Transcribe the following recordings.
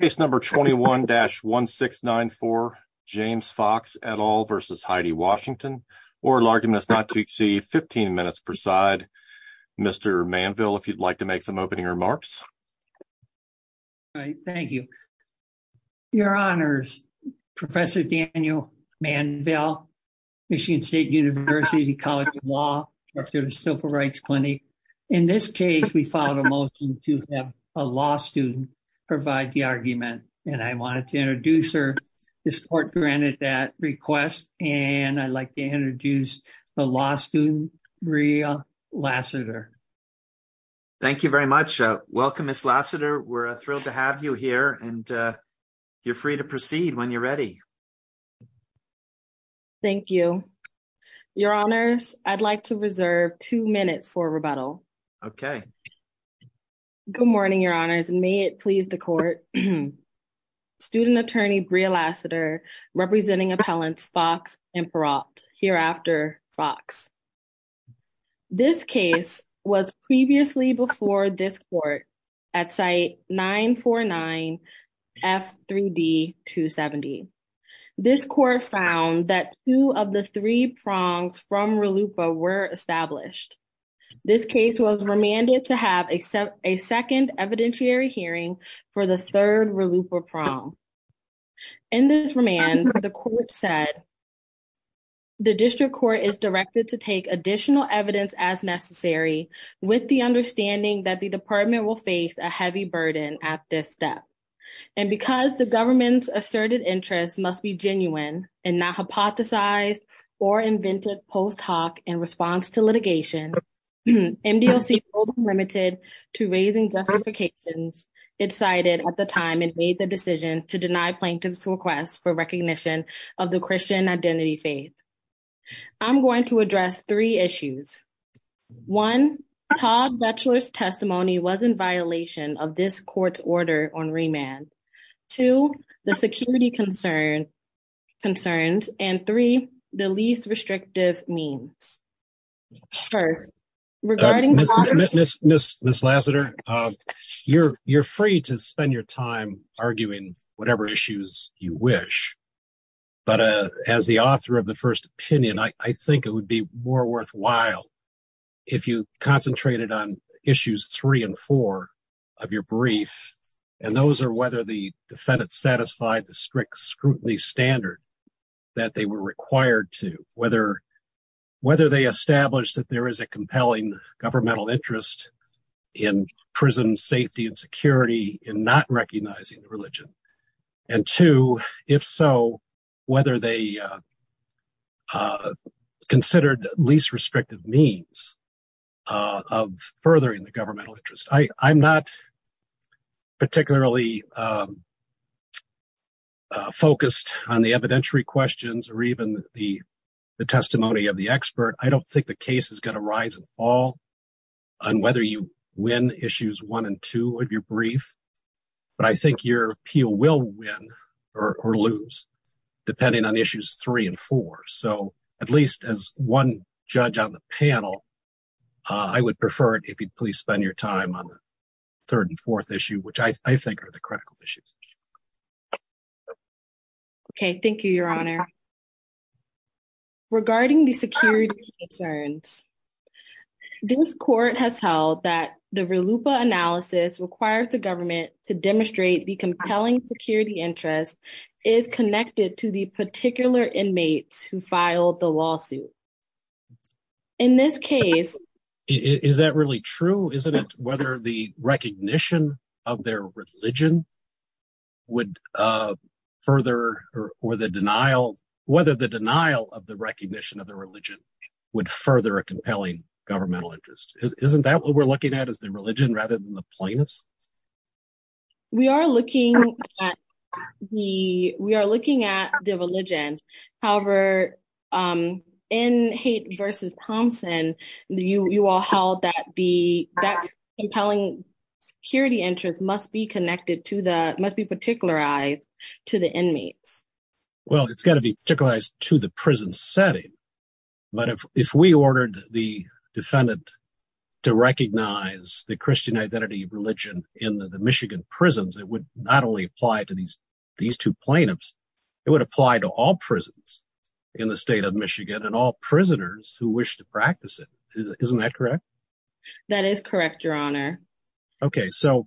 Case number 21-1694, James Fox et al. v. Heidi Washington, oral argument is not to exceed 15 minutes per side. Mr. Manville, if you'd like to make some opening remarks. Thank you. Your Honors, Professor Daniel Manville, Michigan State University College of Law, Director of the Civil Rights Clinic. In this case, we filed a motion to have a law student provide the argument, and I wanted to introduce her. This court granted that request, and I'd like to introduce the law student, Maria Lassiter. Thank you very much. Welcome, Ms. Lassiter. We're thrilled to have you here, and you're free to proceed when you're ready. Thank you. Your Honors, I'd like to reserve two minutes for rebuttal. Okay. Good morning, Your Honors, and may it please the court. Student Attorney Maria Lassiter, representing appellants Fox and Perotte, hereafter Fox. This case was previously before this court at site 949F3D270. This court found that two of the three prongs from RLUIPA were established. This case was remanded to have a second evidentiary hearing for the third RLUIPA prong. In this remand, the court said, to deny plaintiff's request for recognition of the Christian identity faith. I'm going to address three issues. One, Todd Butchler's testimony was in violation of this court's order on remand. Two, the security concerns, and three, the least restrictive means. Regarding... Ms. Lassiter, you're free to spend your time arguing whatever issues you wish, but as the author of the first opinion, I think it would be more worthwhile if you concentrated on issues three and four of your brief, and those are whether the defendant satisfied the strict scrutiny standard that they were required to, whether they established that there is a compelling governmental interest in prison safety and security in not recognizing the religion, and two, if so, whether they considered least restrictive means of furthering the governmental interest. I'm not particularly focused on the evidentiary questions or even the testimony of the expert. I don't think the case is going to rise and fall on whether you win issues one and two of your brief, but I think your appeal will win or lose depending on issues three and four, so at least as one judge on the panel, I would prefer it if you'd please spend your time on the third and fourth issue, which I think are the critical issues. Okay, thank you, Your Honor. Regarding the security concerns, this court has held that the RLUIPA analysis requires the government to demonstrate the compelling security interest is connected to the particular inmates who filed the lawsuit. In this case, is that really true? Isn't it whether the recognition of their religion would further or the denial, whether the denial of the recognition of the religion would further a compelling governmental interest? Isn't that what we're looking at is the religion rather than the plaintiffs? We are looking at the religion. However, in Haight v. Thompson, you all held that the compelling security interest must be connected to the – must be particularized to the inmates. Well, it's got to be particularized to the prison setting, but if we ordered the defendant to recognize the Christian identity of religion in the Michigan prisons, it would not only apply to these two plaintiffs, it would apply to all prisons in the state of Michigan and all prisoners who wish to practice it. Isn't that correct? That is correct, Your Honor. OK, so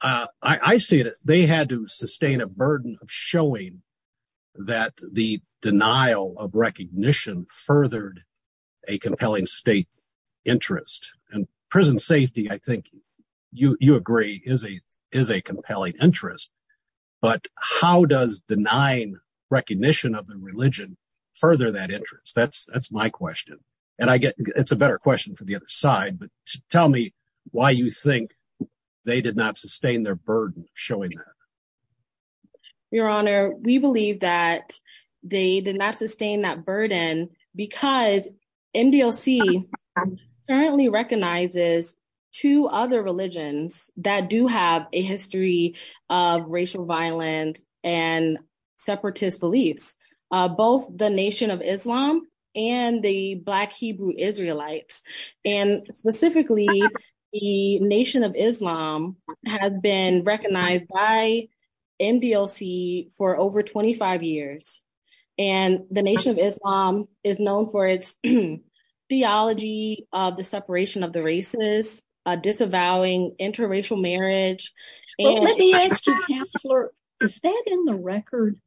I see it. They had to sustain a burden of showing that the denial of recognition furthered a compelling state interest. And prison safety, I think you agree, is a compelling interest. But how does denying recognition of the religion further that interest? That's my question. It's a better question for the other side, but tell me why you think they did not sustain their burden showing that. Your Honor, we believe that they did not sustain that burden because MDLC currently recognizes two other religions that do have a history of racial violence and separatist beliefs. Both the Nation of Islam and the Black Hebrew Israelites. And specifically, the Nation of Islam has been recognized by MDLC for over 25 years. And the Nation of Islam is known for its theology of the separation of the races, disavowing interracial marriage. Let me ask you, Counselor, is that in the record?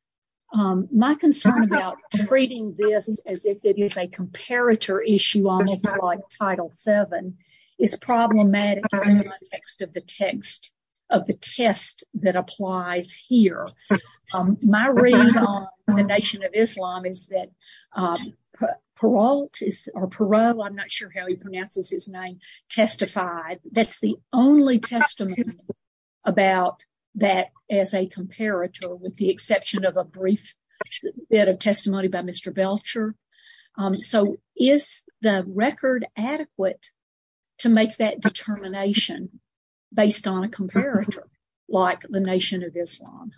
My concern about treating this as if it is a comparator issue, almost like Title VII, is problematic in the context of the text, of the test that applies here. My read on the Nation of Islam is that Perot, I'm not sure how he pronounces his name, testified. That's the only testimony about that as a comparator, with the exception of a brief bit of testimony by Mr. Belcher. So is the record adequate to make that determination based on a comparator like the Nation of Islam?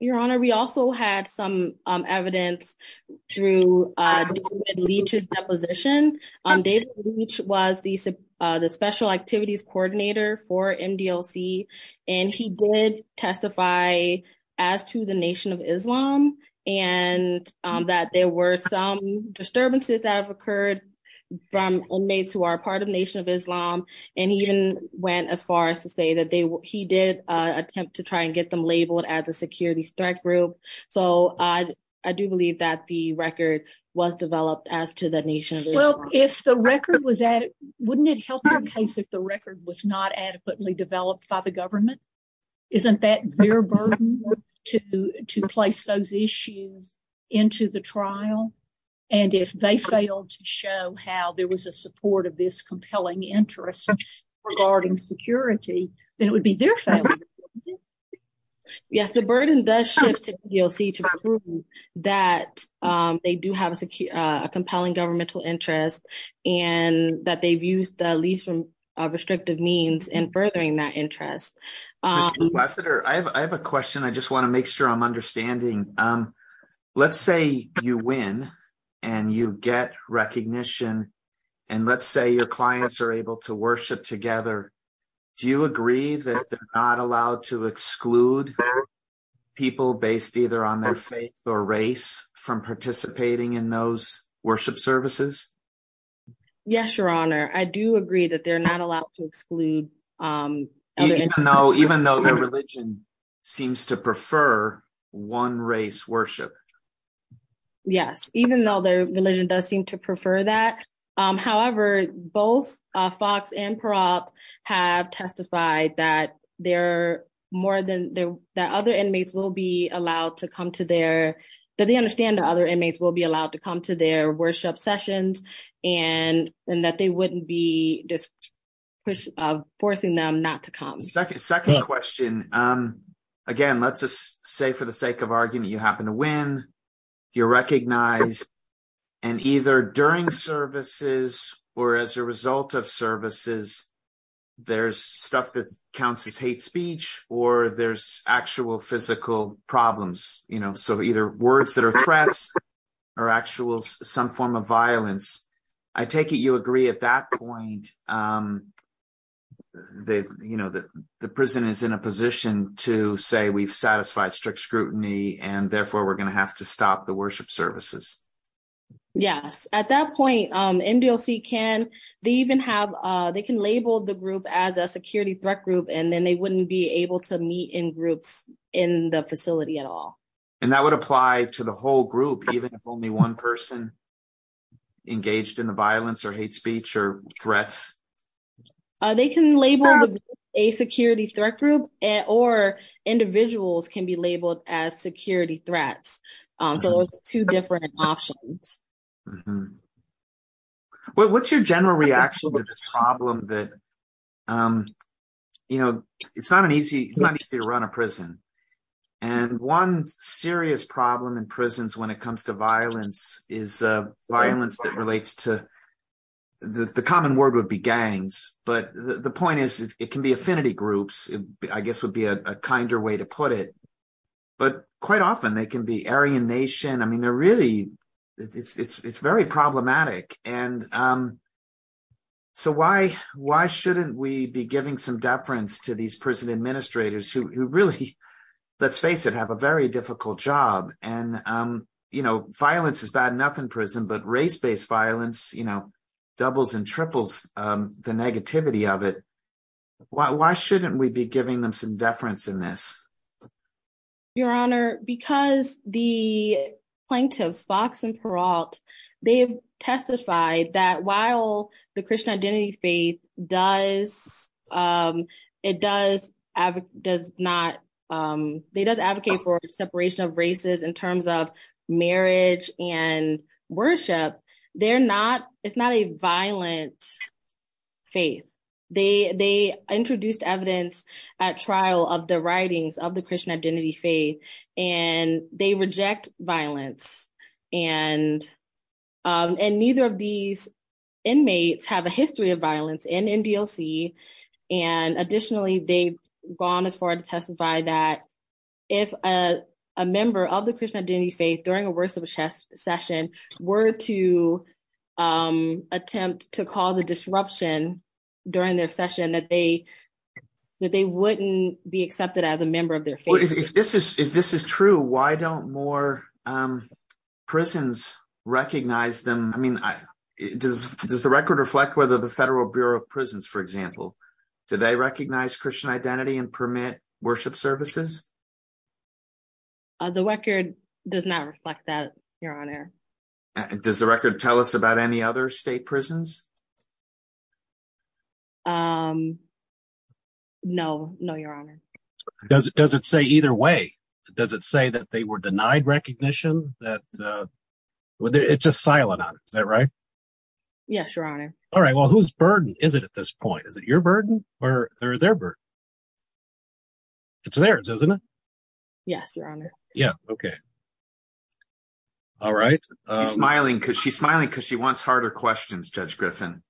Your Honor, we also had some evidence through David Leitch's deposition. David Leitch was the Special Activities Coordinator for MDLC, and he did testify as to the Nation of Islam. And that there were some disturbances that have occurred from inmates who are part of the Nation of Islam. And he even went as far as to say that he did attempt to try and get them labeled as a security threat group. So I do believe that the record was developed as to the Nation of Islam. Well, if the record was adequate, wouldn't it help the case if the record was not adequately developed by the government? Isn't that their burden to place those issues into the trial? And if they failed to show how there was a support of this compelling interest regarding security, then it would be their fault. Yes, the burden does shift to MDLC to prove that they do have a compelling governmental interest and that they've used the least restrictive means in furthering that interest. Mr. Ambassador, I have a question I just want to make sure I'm understanding. Let's say you win and you get recognition and let's say your clients are able to worship together. Do you agree that they're not allowed to exclude people based either on their faith or race from participating in those worship services? Yes, Your Honor, I do agree that they're not allowed to exclude. Even though their religion seems to prefer one race worship. Yes, even though their religion does seem to prefer that. However, both Fox and Peralta have testified that they're more than that. Other inmates will be allowed to come to their that they understand. Other inmates will be allowed to come to their worship sessions and that they wouldn't be forcing them not to come. Second question. Again, let's just say for the sake of argument, you happen to win. You're recognized and either during services or as a result of services, there's stuff that counts as hate speech or there's actual physical problems. You know, so either words that are threats or actual some form of violence. I take it you agree at that point. They've you know, the prison is in a position to say we've satisfied strict scrutiny and therefore we're going to have to stop the worship services. Yes, at that point, MDOC can they even have they can label the group as a security threat group and then they wouldn't be able to meet in groups in the facility at all. And that would apply to the whole group, even if only one person engaged in the violence or hate speech or threats. They can label a security threat group or individuals can be labeled as security threats. So it's two different options. What's your general reaction to this problem that, you know, it's not an easy it's not easy to run a prison. And one serious problem in prisons when it comes to violence is violence that relates to the common word would be gangs. But the point is, it can be affinity groups, I guess, would be a kinder way to put it. But quite often they can be Aryan nation. I mean, they're really it's very problematic. And so why, why shouldn't we be giving some deference to these prison administrators who really, let's face it, have a very difficult job, and, you know, violence is bad enough in prison but race based violence, you know, doubles and triples the negativity of it. Why shouldn't we be giving them some deference in this. Your Honor, because the plaintiffs Fox and Peralta, they've testified that while the Christian identity faith does. It does, does not. They don't advocate for separation of races in terms of marriage and worship. They're not, it's not a violent faith, they introduced evidence at trial of the writings of the Christian identity faith, and they reject violence and. And neither of these inmates have a history of violence in MDLC. And additionally, they've gone as far to testify that if a member of the Christian identity faith during a worship session were to attempt to call the disruption during their session that they, that they wouldn't be accepted as a member of their faith. If this is if this is true, why don't more prisons, recognize them, I mean, does, does the record reflect whether the Federal Bureau of Prisons for example, do they recognize Christian identity and permit worship services. The record does not reflect that, Your Honor. Does the record tell us about any other state prisons. No, no, Your Honor. Does it doesn't say either way. Does it say that they were denied recognition that it's a silent on that right. Yes, Your Honor. All right, well who's burden is it at this point is that your burden, or their bird. It's theirs isn't it. Yes, Your Honor. Yeah, okay. All right, smiling because she's smiling because she wants harder questions judge Griffin.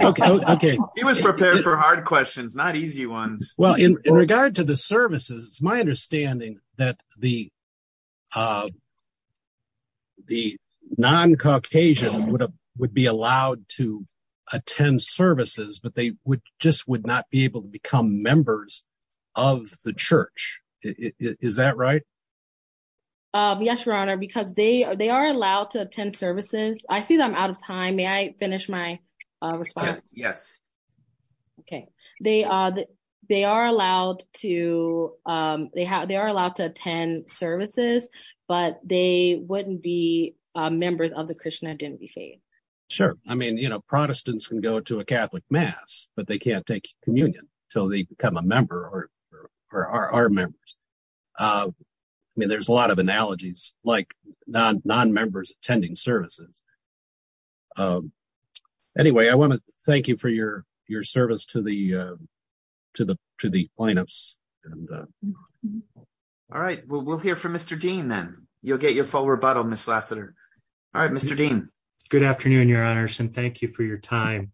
Okay, he was prepared for hard questions not easy ones. Well, in regard to the services, it's my understanding that the, the non Caucasian would have would be allowed to attend services but they would just would not be able to become members of the church. Is that right. Yes, Your Honor, because they are they are allowed to attend services, I see them out of time may I finish my response. Yes. Okay, they, they are allowed to, they have they are allowed to attend services, but they wouldn't be members of the Christian identity faith. Sure, I mean you know Protestants can go to a Catholic mass, but they can't take communion, till they become a member or are members. I mean there's a lot of analogies, like non non members attending services. Anyway, I want to thank you for your, your service to the, to the, to the lineups and. All right, we'll hear from Mr Dean then you'll get your full rebuttal Miss Lassiter. All right, Mr Dean. Good afternoon, Your Honor, and thank you for your time.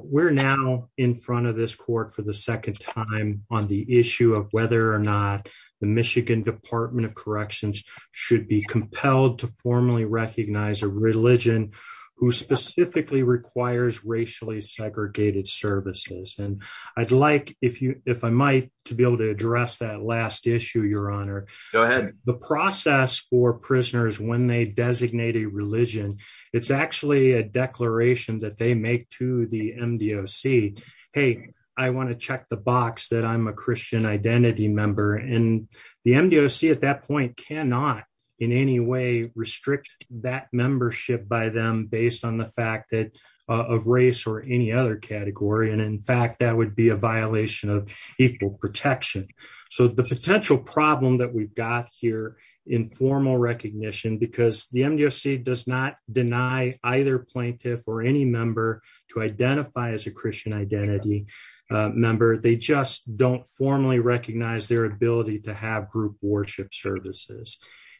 We're now in front of this court for the second time on the issue of whether or not the Michigan Department of Corrections should be compelled to formally recognize a religion, who specifically requires racially segregated services and I'd like if you, if I might, to be able to address that last issue, Your Honor. Go ahead. The process for prisoners when they designate a religion. It's actually a declaration that they make to the MDOC. Hey, I want to check the box that I'm a Christian identity member and the MDOC at that point cannot in any way restrict that membership by them based on the fact that of race or any other category and in fact that would be a violation of equal protection. So the potential problem that we've got here in formal recognition because the MDOC does not deny either plaintiff or any member to identify as a Christian identity member they just don't formally recognize their ability to have group worship services,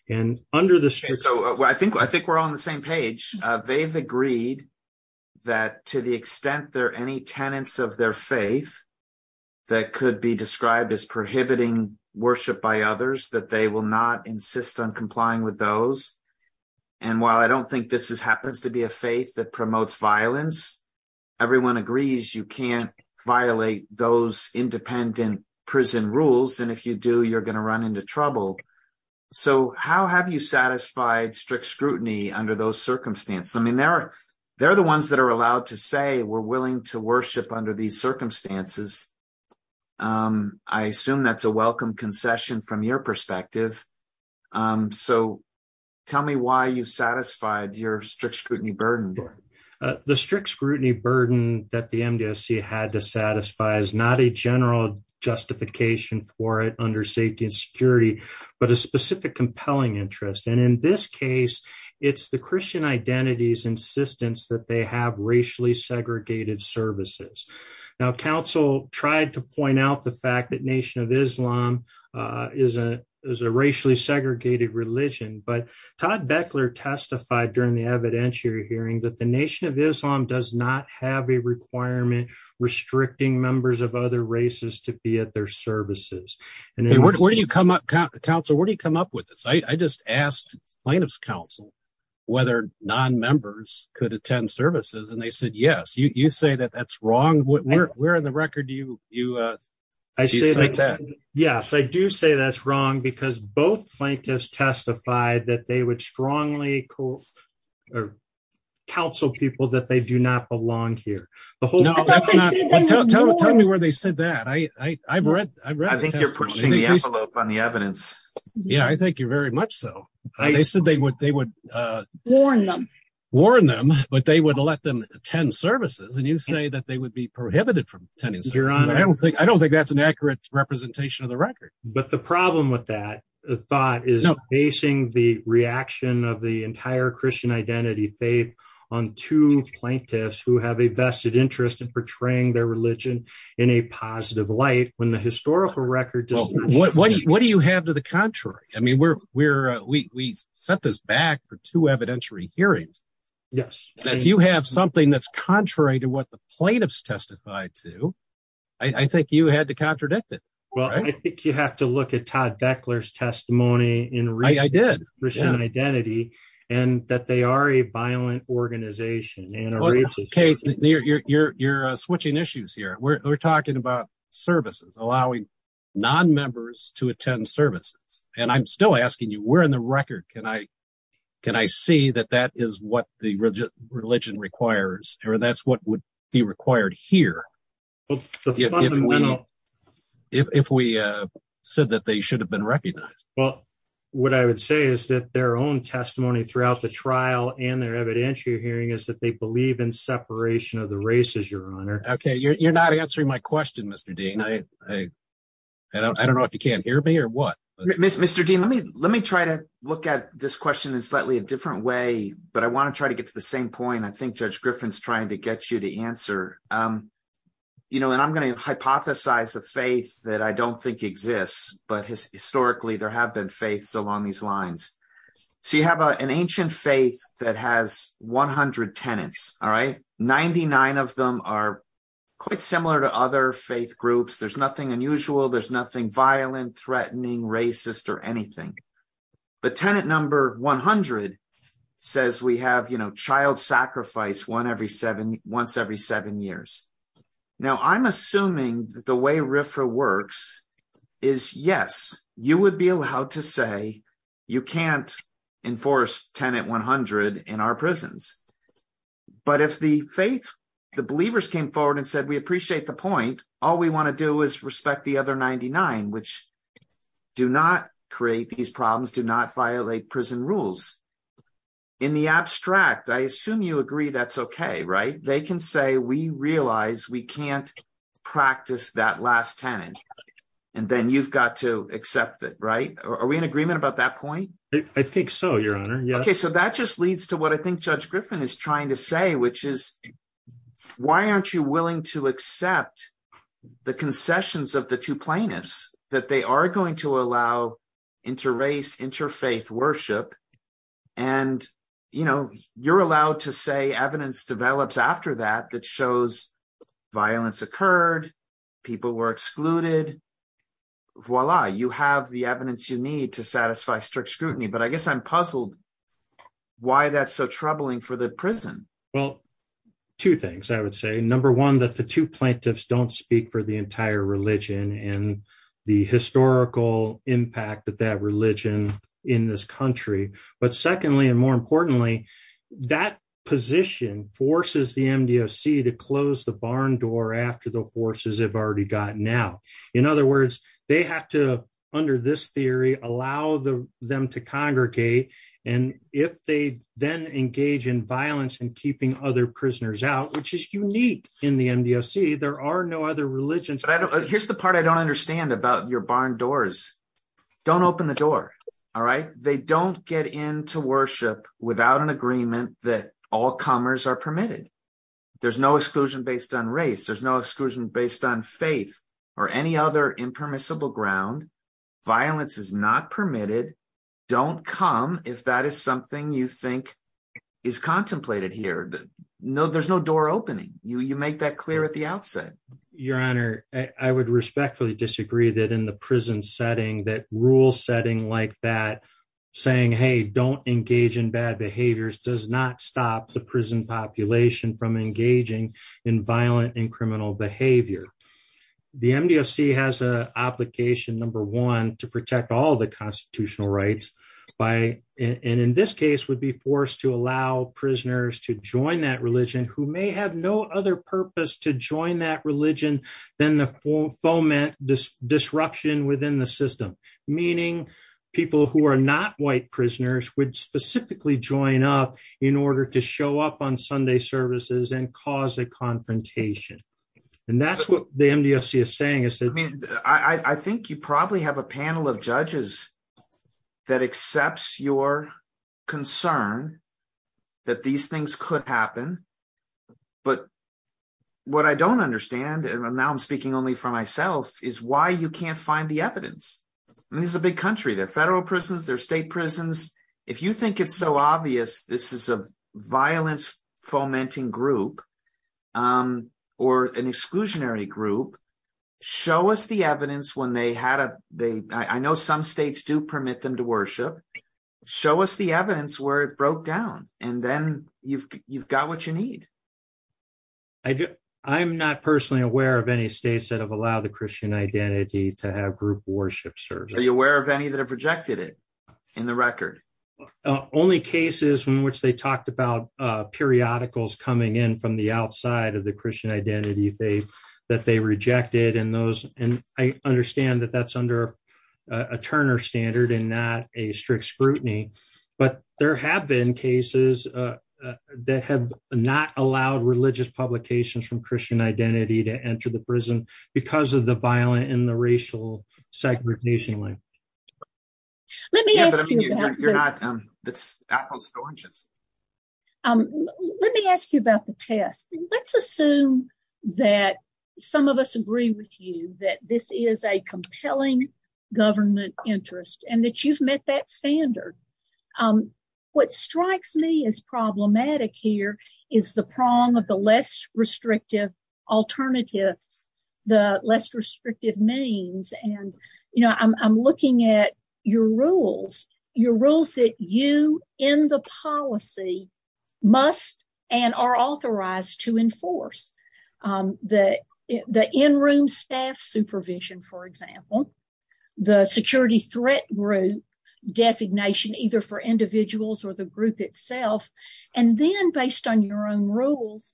and under the I think we're on the same page. They've agreed that to the extent there any tenants of their faith that could be described as prohibiting worship by others that they will not insist on complying with those. And while I don't think this is happens to be a faith that promotes violence. Everyone agrees you can't violate those independent prison rules and if you do you're going to run into trouble. So how have you satisfied strict scrutiny under those circumstances. I mean there are there are the ones that are allowed to say we're willing to worship under these circumstances. I assume that's a welcome concession from your perspective. So tell me why you satisfied your strict scrutiny burden. The strict scrutiny burden that the MDOC had to satisfy is not a general justification for it under safety and security, but a specific compelling interest and in this case, it's the Christian identities insistence that they have racially segregated services. Now council tried to point out the fact that Nation of Islam is a is a racially segregated religion but Todd Bechler testified during the evidentiary hearing that the Nation of Islam does not have a requirement restricting members of other races to be at their services. And where do you come up council where do you come up with this I just asked plaintiffs counsel, whether non members could attend services and they said yes you say that that's wrong what we're in the record you, you. I say like that. Yes, I do say that's wrong because both plaintiffs testified that they would strongly cool or counsel people that they do not belong here. Tell me where they said that I, I've read. I think you're pushing the envelope on the evidence. Yeah, I think you're very much so. I said they would they would warn them, warn them, but they would let them attend services and you say that they would be prohibited from attending. I don't think that's an accurate representation of the record, but the problem with that thought is facing the reaction of the entire Christian identity faith on to plaintiffs who have a vested interest in portraying their religion in a positive light when the historical record. What do you have to the contrary, I mean we're, we're, we set this back for two evidentiary hearings. Yes, you have something that's contrary to what the plaintiffs testified to, I think you had to contradict it. Well, I think you have to look at Todd Beckler's testimony in I did identity, and that they are a violent organization and okay you're you're you're switching issues here we're talking about services, allowing non members to attend services, and I'm still asking you we're in the record can I can I see that that is what the religion requires, or that's what would be required here. Well, if we said that they should have been recognized. Well, what I would say is that their own testimony throughout the trial and their evidentiary hearing is that they believe in separation of the races your honor. Okay, you're not answering my question Mr Dean I don't I don't know if you can't hear me or what. Mr Dean, let me, let me try to look at this question is slightly a different way, but I want to try to get to the same point I think Judge Griffin's trying to get you to answer. You know, and I'm going to hypothesize a faith that I don't think exists, but historically there have been faiths along these lines. So you have an ancient faith that has 100 tenants. All right, 99 of them are quite similar to other faith groups there's nothing unusual there's nothing violent threatening racist or anything. But tenant number 100 says we have you know child sacrifice one every seven once every seven years. Now I'm assuming that the way RFRA works is yes, you would be allowed to say you can't enforce tenant 100 in our prisons. But if the faith, the believers came forward and said we appreciate the point. All we want to do is respect the other 99 which do not create these problems do not violate prison rules. In the abstract I assume you agree that's okay right they can say we realize we can't practice that last tenant. And then you've got to accept it right. Are we in agreement about that point. I think so your honor. Okay, so that just leads to what I think Judge Griffin is trying to say which is, why aren't you willing to accept the concessions of the two plaintiffs, that they are going to allow inter race interfaith worship. And, you know, you're allowed to say evidence develops after that that shows violence occurred. People were excluded. Voila, you have the evidence you need to satisfy strict scrutiny but I guess I'm puzzled why that's so troubling for the prison. Well, two things I would say number one that the two plaintiffs don't speak for the entire religion and the historical impact that that religion in this country. which is unique in the MDFC there are no other religions. Here's the part I don't understand about your barn doors. Don't open the door. All right, they don't get into worship without an agreement that all comers are permitted. There's no exclusion based on race there's no exclusion based on faith, or any other impermissible ground violence is not permitted. Don't come if that is something you think is contemplated here that no there's no door opening you you make that clear at the outset. Your Honor, I would respectfully disagree that in the prison setting that rule setting like that, saying hey don't engage in bad behaviors does not stop the prison population from engaging in violent and criminal behavior. The MDFC has a application number one to protect all the constitutional rights by, and in this case would be forced to allow prisoners to join that religion who may have no other purpose to join that religion, then the full foment this disruption within the I mean, I think you probably have a panel of judges that accepts your concern that these things could happen. But what I don't understand and I'm now I'm speaking only for myself is why you can't find the evidence. This is a big country that federal prisons their state prisons. If you think it's so obvious this is a violence, fomenting group, or an exclusionary group. Show us the evidence when they had a, they, I know some states do permit them to worship. Show us the evidence where it broke down, and then you've, you've got what you need. I do. I'm not personally aware of any states that have allowed the Christian identity to have group worship service aware of any that have rejected it in the record. publications from Christian identity to enter the prison, because of the violent in the racial segregation link. Let me ask you. That's Apple storages. Let me ask you about the test. Let's assume that some of us agree with you that this is a compelling government interest and that you've met that standard. What strikes me as problematic here is the prong of the less restrictive alternatives, the less restrictive means and, you know, I'm looking at your rules, your rules that you in the policy must and are authorized to enforce. The, the in room staff supervision, for example, the security threat group designation, either for individuals or the group itself, and then based on your own rules.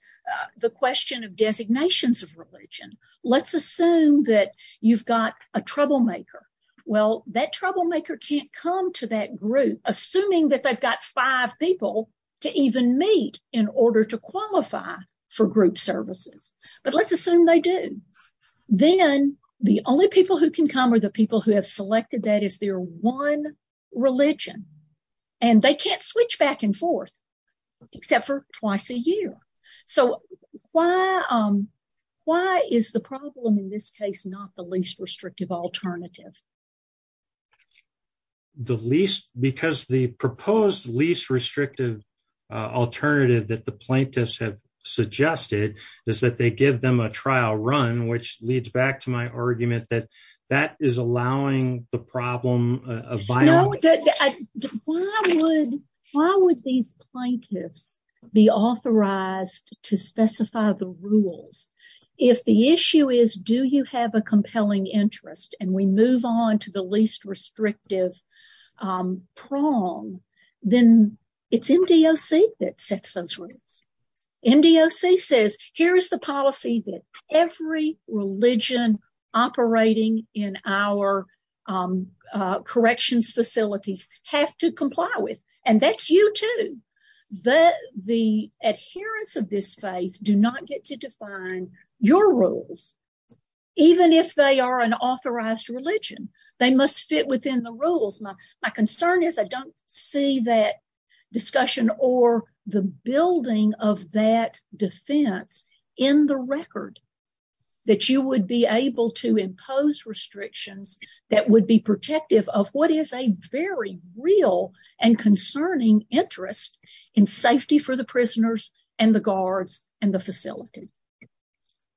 The question of designations of religion. Let's assume that you've got a troublemaker. Well, that troublemaker can't come to that group, assuming that they've got five people to even meet in order to qualify for group services, but let's assume they do. Then, the only people who can come are the people who have selected that is there one religion, and they can't switch back and forth, except for twice a year. So, why, why is the problem in this case not the least restrictive alternative. The least because the proposed least restrictive alternative that the plaintiffs have suggested is that they give them a trial run which leads back to my argument that that is allowing the problem of. Why would these plaintiffs be authorized to specify the rules. If the issue is, do you have a compelling interest and we move on to the least restrictive prong, then it's MDOC that sets those rules. MDOC says, here's the policy that every religion operating in our Corrections facilities have to comply with and that's you too. The adherence of this faith do not get to define your rules. Even if they are an authorized religion, they must fit within the rules. My concern is I don't see that discussion or the building of that defense in the record that you would be able to impose restrictions that would be protective of what is a very real and concerning interest in safety for the prisoners and the guards and the facility.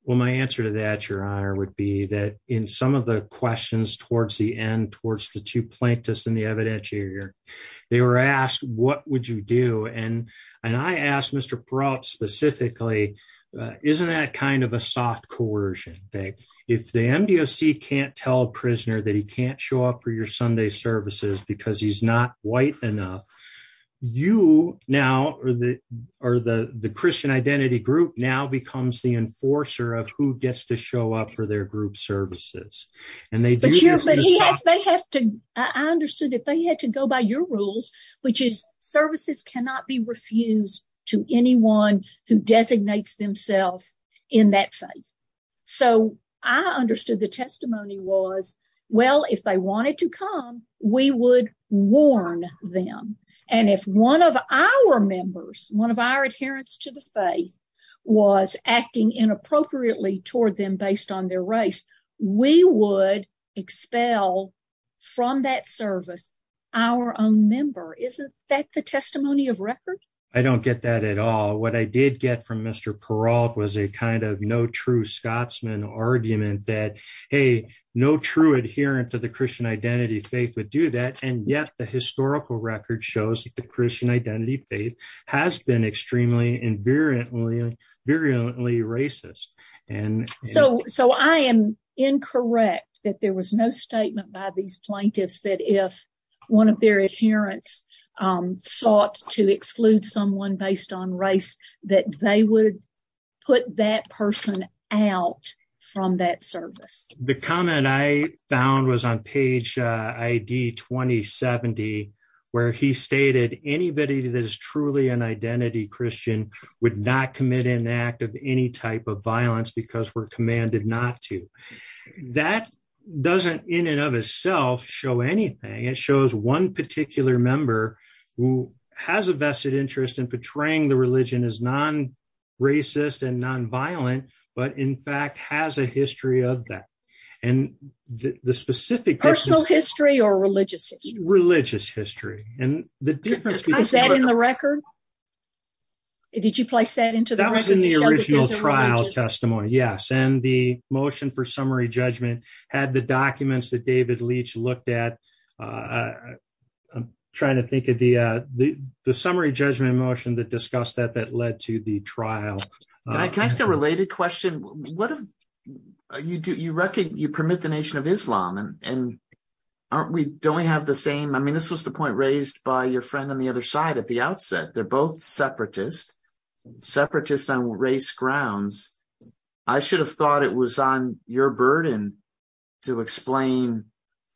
Well, my answer to that your honor would be that in some of the questions towards the end towards the two plaintiffs in the evidentiary, they were asked, what would you do and and I asked Mr. specifically, isn't that kind of a soft coercion thing. If the MDOC can't tell a prisoner that he can't show up for your Sunday services because he's not white enough. You now are the Christian Identity Group now becomes the enforcer of who gets to show up for their group services. I understood that they had to go by your rules, which is services cannot be refused to anyone who designates themselves in that faith. So I understood the testimony was well if they wanted to come, we would warn them. And if one of our members, one of our adherence to the faith. Was acting inappropriately toward them based on their race, we would expel from that service, our own member isn't that the testimony of record. I don't get that at all. What I did get from Mr parole was a kind of no true Scotsman argument that Hey, no true adherent to the Christian identity faith would do that. And yet the historical record shows the Christian identity faith has been extremely invariantly virulently racist and So, so I am incorrect that there was no statement by these plaintiffs that if one of their adherence sought to exclude someone based on race that they would put that person out from that service. The comment I found was on page ID 2070 where he stated anybody that is truly an identity Christian would not commit an act of any type of violence because we're commanded not to That doesn't in and of itself show anything. It shows one particular member who has a vested interest in portraying the religion is non racist and non violent, but in fact has a history of that and the specific personal history or religious religious history and the difference Is that in the record. Did you place that into the trial testimony. Yes. And the motion for summary judgment had the documents that David leach looked at Trying to think of the, the, the summary judgment motion that discussed that that led to the trial. Can I ask a related question. What have you do you reckon you permit the Nation of Islam and and aren't we don't we have the same. I mean, this was the point raised by your friend on the other side at the outset. They're both separatist separatist on race grounds. I should have thought it was on your burden to explain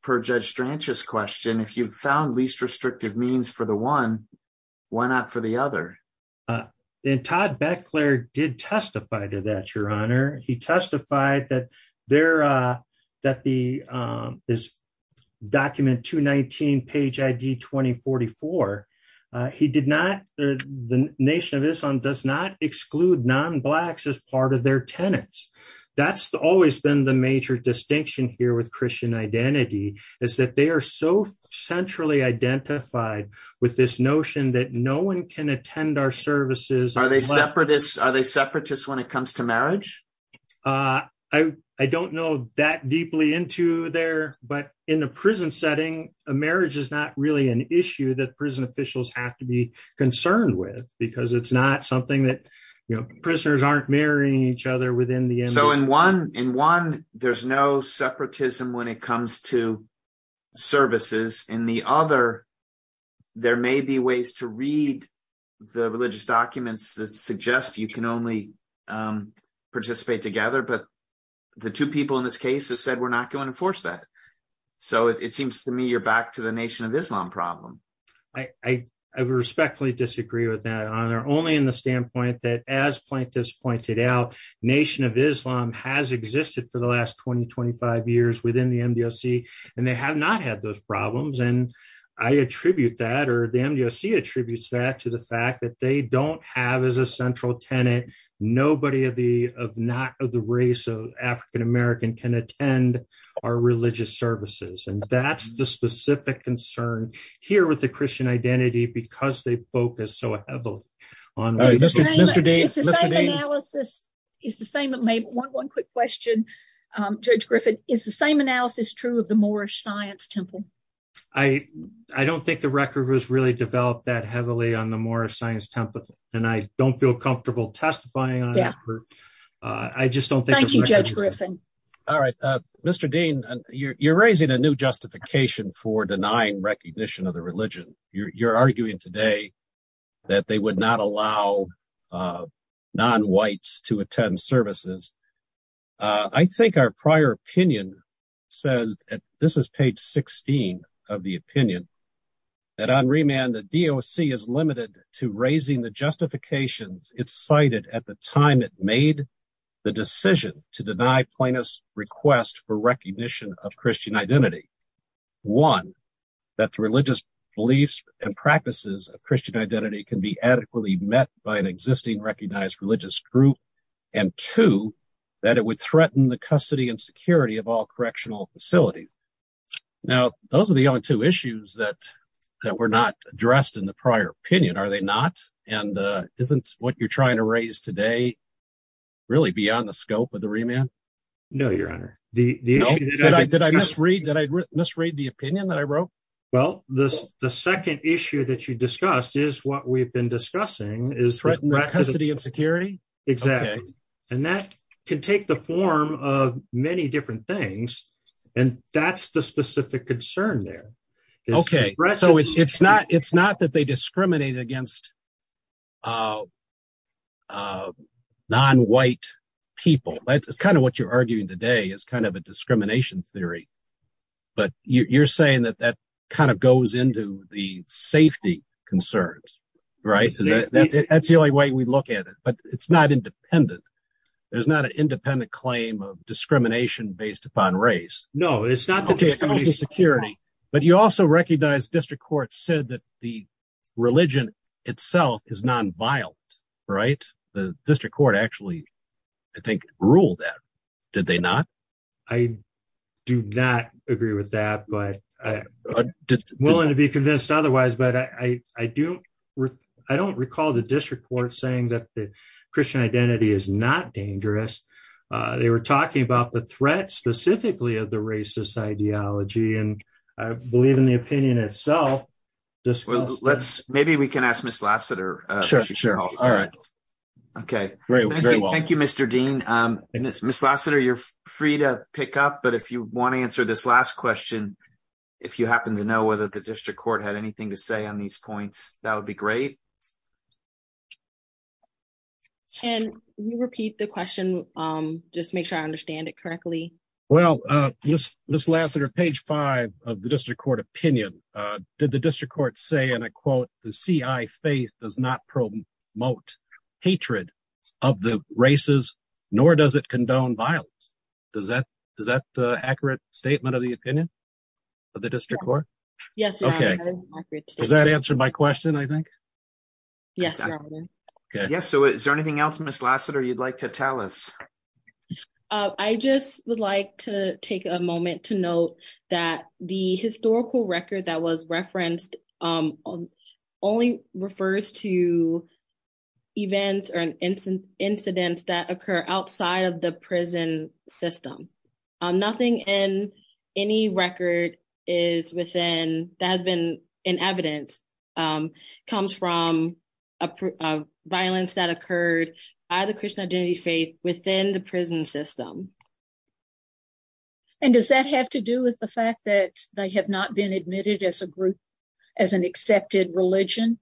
per judge branches question if you've found least restrictive means for the one. Why not for the other than Todd Beckler did testify to that, Your Honor, he testified that there that the is document to 19 page ID 2044. He did not the nation of Islam does not exclude non blacks as part of their tenants. That's always been the major distinction here with Christian identity is that they are so centrally identified with this notion that no one can attend our services. Are they separatists are they separatists when it comes to marriage. I, I don't know that deeply into there, but in the prison setting a marriage is not really an issue that prison officials have to be concerned with, because it's not something that, you know, prisoners aren't marrying each other within the so in one in one, there's no separatism when it comes to services in the other. There may be ways to read the religious documents that suggest you can only participate together but the two people in this case has said we're not going to force that. So it seems to me you're back to the nation of Islam problem. I respectfully disagree with that honor only in the standpoint that as plaintiffs pointed out, nation of Islam has existed for the last 2025 years within the MDOC, and they have not had those services and that's the specific concern here with the Christian identity because they focus so heavily on. This is the same it made one quick question. Judge Griffin is the same analysis true of the more science temple. I, I don't think the record was really developed that heavily on the more science template, and I don't feel comfortable testifying. I just don't think you judge Griffin. All right, Mr Dean, you're raising a new justification for denying recognition of the religion, you're arguing today that they would not allow non whites to attend services. I think our prior opinion says that this is page 16 of the opinion that on remand the DOC is limited to raising the justifications, it's cited at the time it made the decision to deny plaintiffs request for recognition of Christian identity. One, that the religious beliefs and practices of Christian identity can be adequately met by an existing recognized religious group, and two, that it would threaten the custody and security of all correctional facilities. Now, those are the only two issues that that were not addressed in the prior opinion are they not, and isn't what you're trying to raise today. Really beyond the scope of the remand. No, Your Honor, the did I misread that I misread the opinion that I wrote. Well, this, the second issue that you discussed is what we've been discussing is threatened custody and security. Exactly. And that can take the form of many different things. And that's the specific concern there. Okay, so it's not it's not that they discriminate against Nonwhite people. That's kind of what you're arguing today is kind of a discrimination theory. But you're saying that that kind of goes into the safety concerns. Right. That's the only way we look at it, but it's not independent. There's not an independent claim of discrimination based upon race. No, it's not the security, but you also recognize district court said that the religion itself is non vile. Right. The district court actually, I think, rule that did they not. I do not agree with that, but willing to be convinced otherwise, but I, I do. I don't recall the district court saying that the Christian identity is not dangerous. They were talking about the threat specifically of the racist ideology and I believe in the opinion itself. Let's maybe we can ask Miss Lassiter. Sure. All right. Okay. Great. Thank you, Mr. Dean. Miss Lassiter you're free to pick up but if you want to answer this last question. If you happen to know whether the district court had anything to say on these points, that would be great. Can you repeat the question. Just make sure I understand it correctly. Well, this, this last year page five of the district court opinion. Did the district court say and I quote the CI faith does not promote hatred of the races, nor does it condone violence. Does that, does that accurate statement of the opinion of the district court. Does that answer my question I think. Yes. Yes. So is there anything else Miss Lassiter you'd like to tell us. I just would like to take a moment to note that the historical record that was referenced only refers to events or an incident incidents that occur outside of the prison system. Nothing in any record is within that has been in evidence comes from a violence that occurred by the Christian identity faith within the prison system. And does that have to do with the fact that they have not been admitted as a group as an accepted religion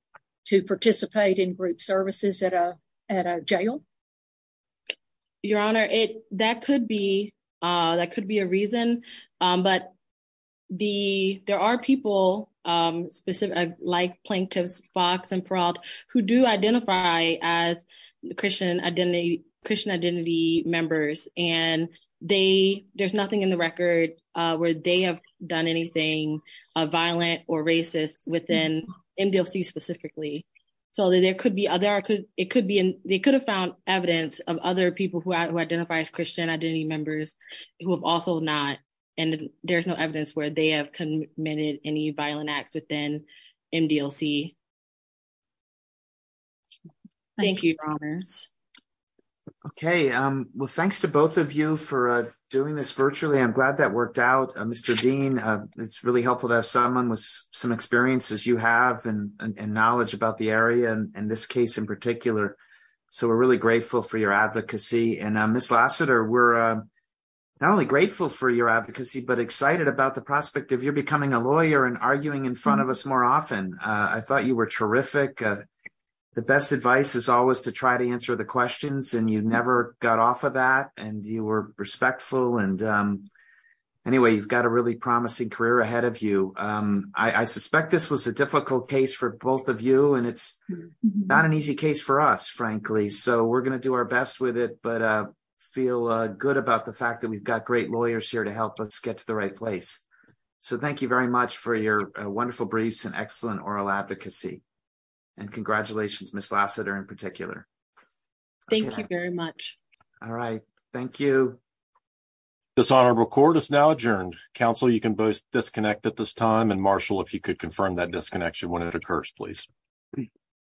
to participate in group services at a, at a jail. Your Honor, it, that could be, that could be a reason, but the, there are people specific like plaintiffs box and fraud, who do identify as the Christian identity, Christian identity members, and they, there's nothing in the record where they have done anything violent or racist within MDLC specifically. So there could be other could, it could be, they could have found evidence of other people who identify as Christian identity members who have also not, and there's no evidence where they have committed any violent acts within MDLC. Thank you. Okay, well thanks to both of you for doing this virtually I'm glad that worked out, Mr. Dean, it's really helpful to have someone with some experiences you have and knowledge about the area and this case in particular. So we're really grateful for your advocacy and Miss Lassiter we're not only grateful for your advocacy but excited about the prospect of you're becoming a lawyer and arguing in front of us more often, I thought you were terrific. The best advice is always to try to answer the questions and you never got off of that, and you were respectful and anyway you've got a really promising career ahead of you. I suspect this was a difficult case for both of you and it's not an easy case for us, frankly, so we're going to do our best with it but feel good about the fact that we've got great lawyers here to help us get to the right place. So thank you very much for your wonderful briefs and excellent oral advocacy and congratulations Miss Lassiter in particular. Thank you very much. All right. Thank you. This honorable court is now adjourned. Counsel you can both disconnect at this time and Marshall if you could confirm that disconnection when it occurs, please.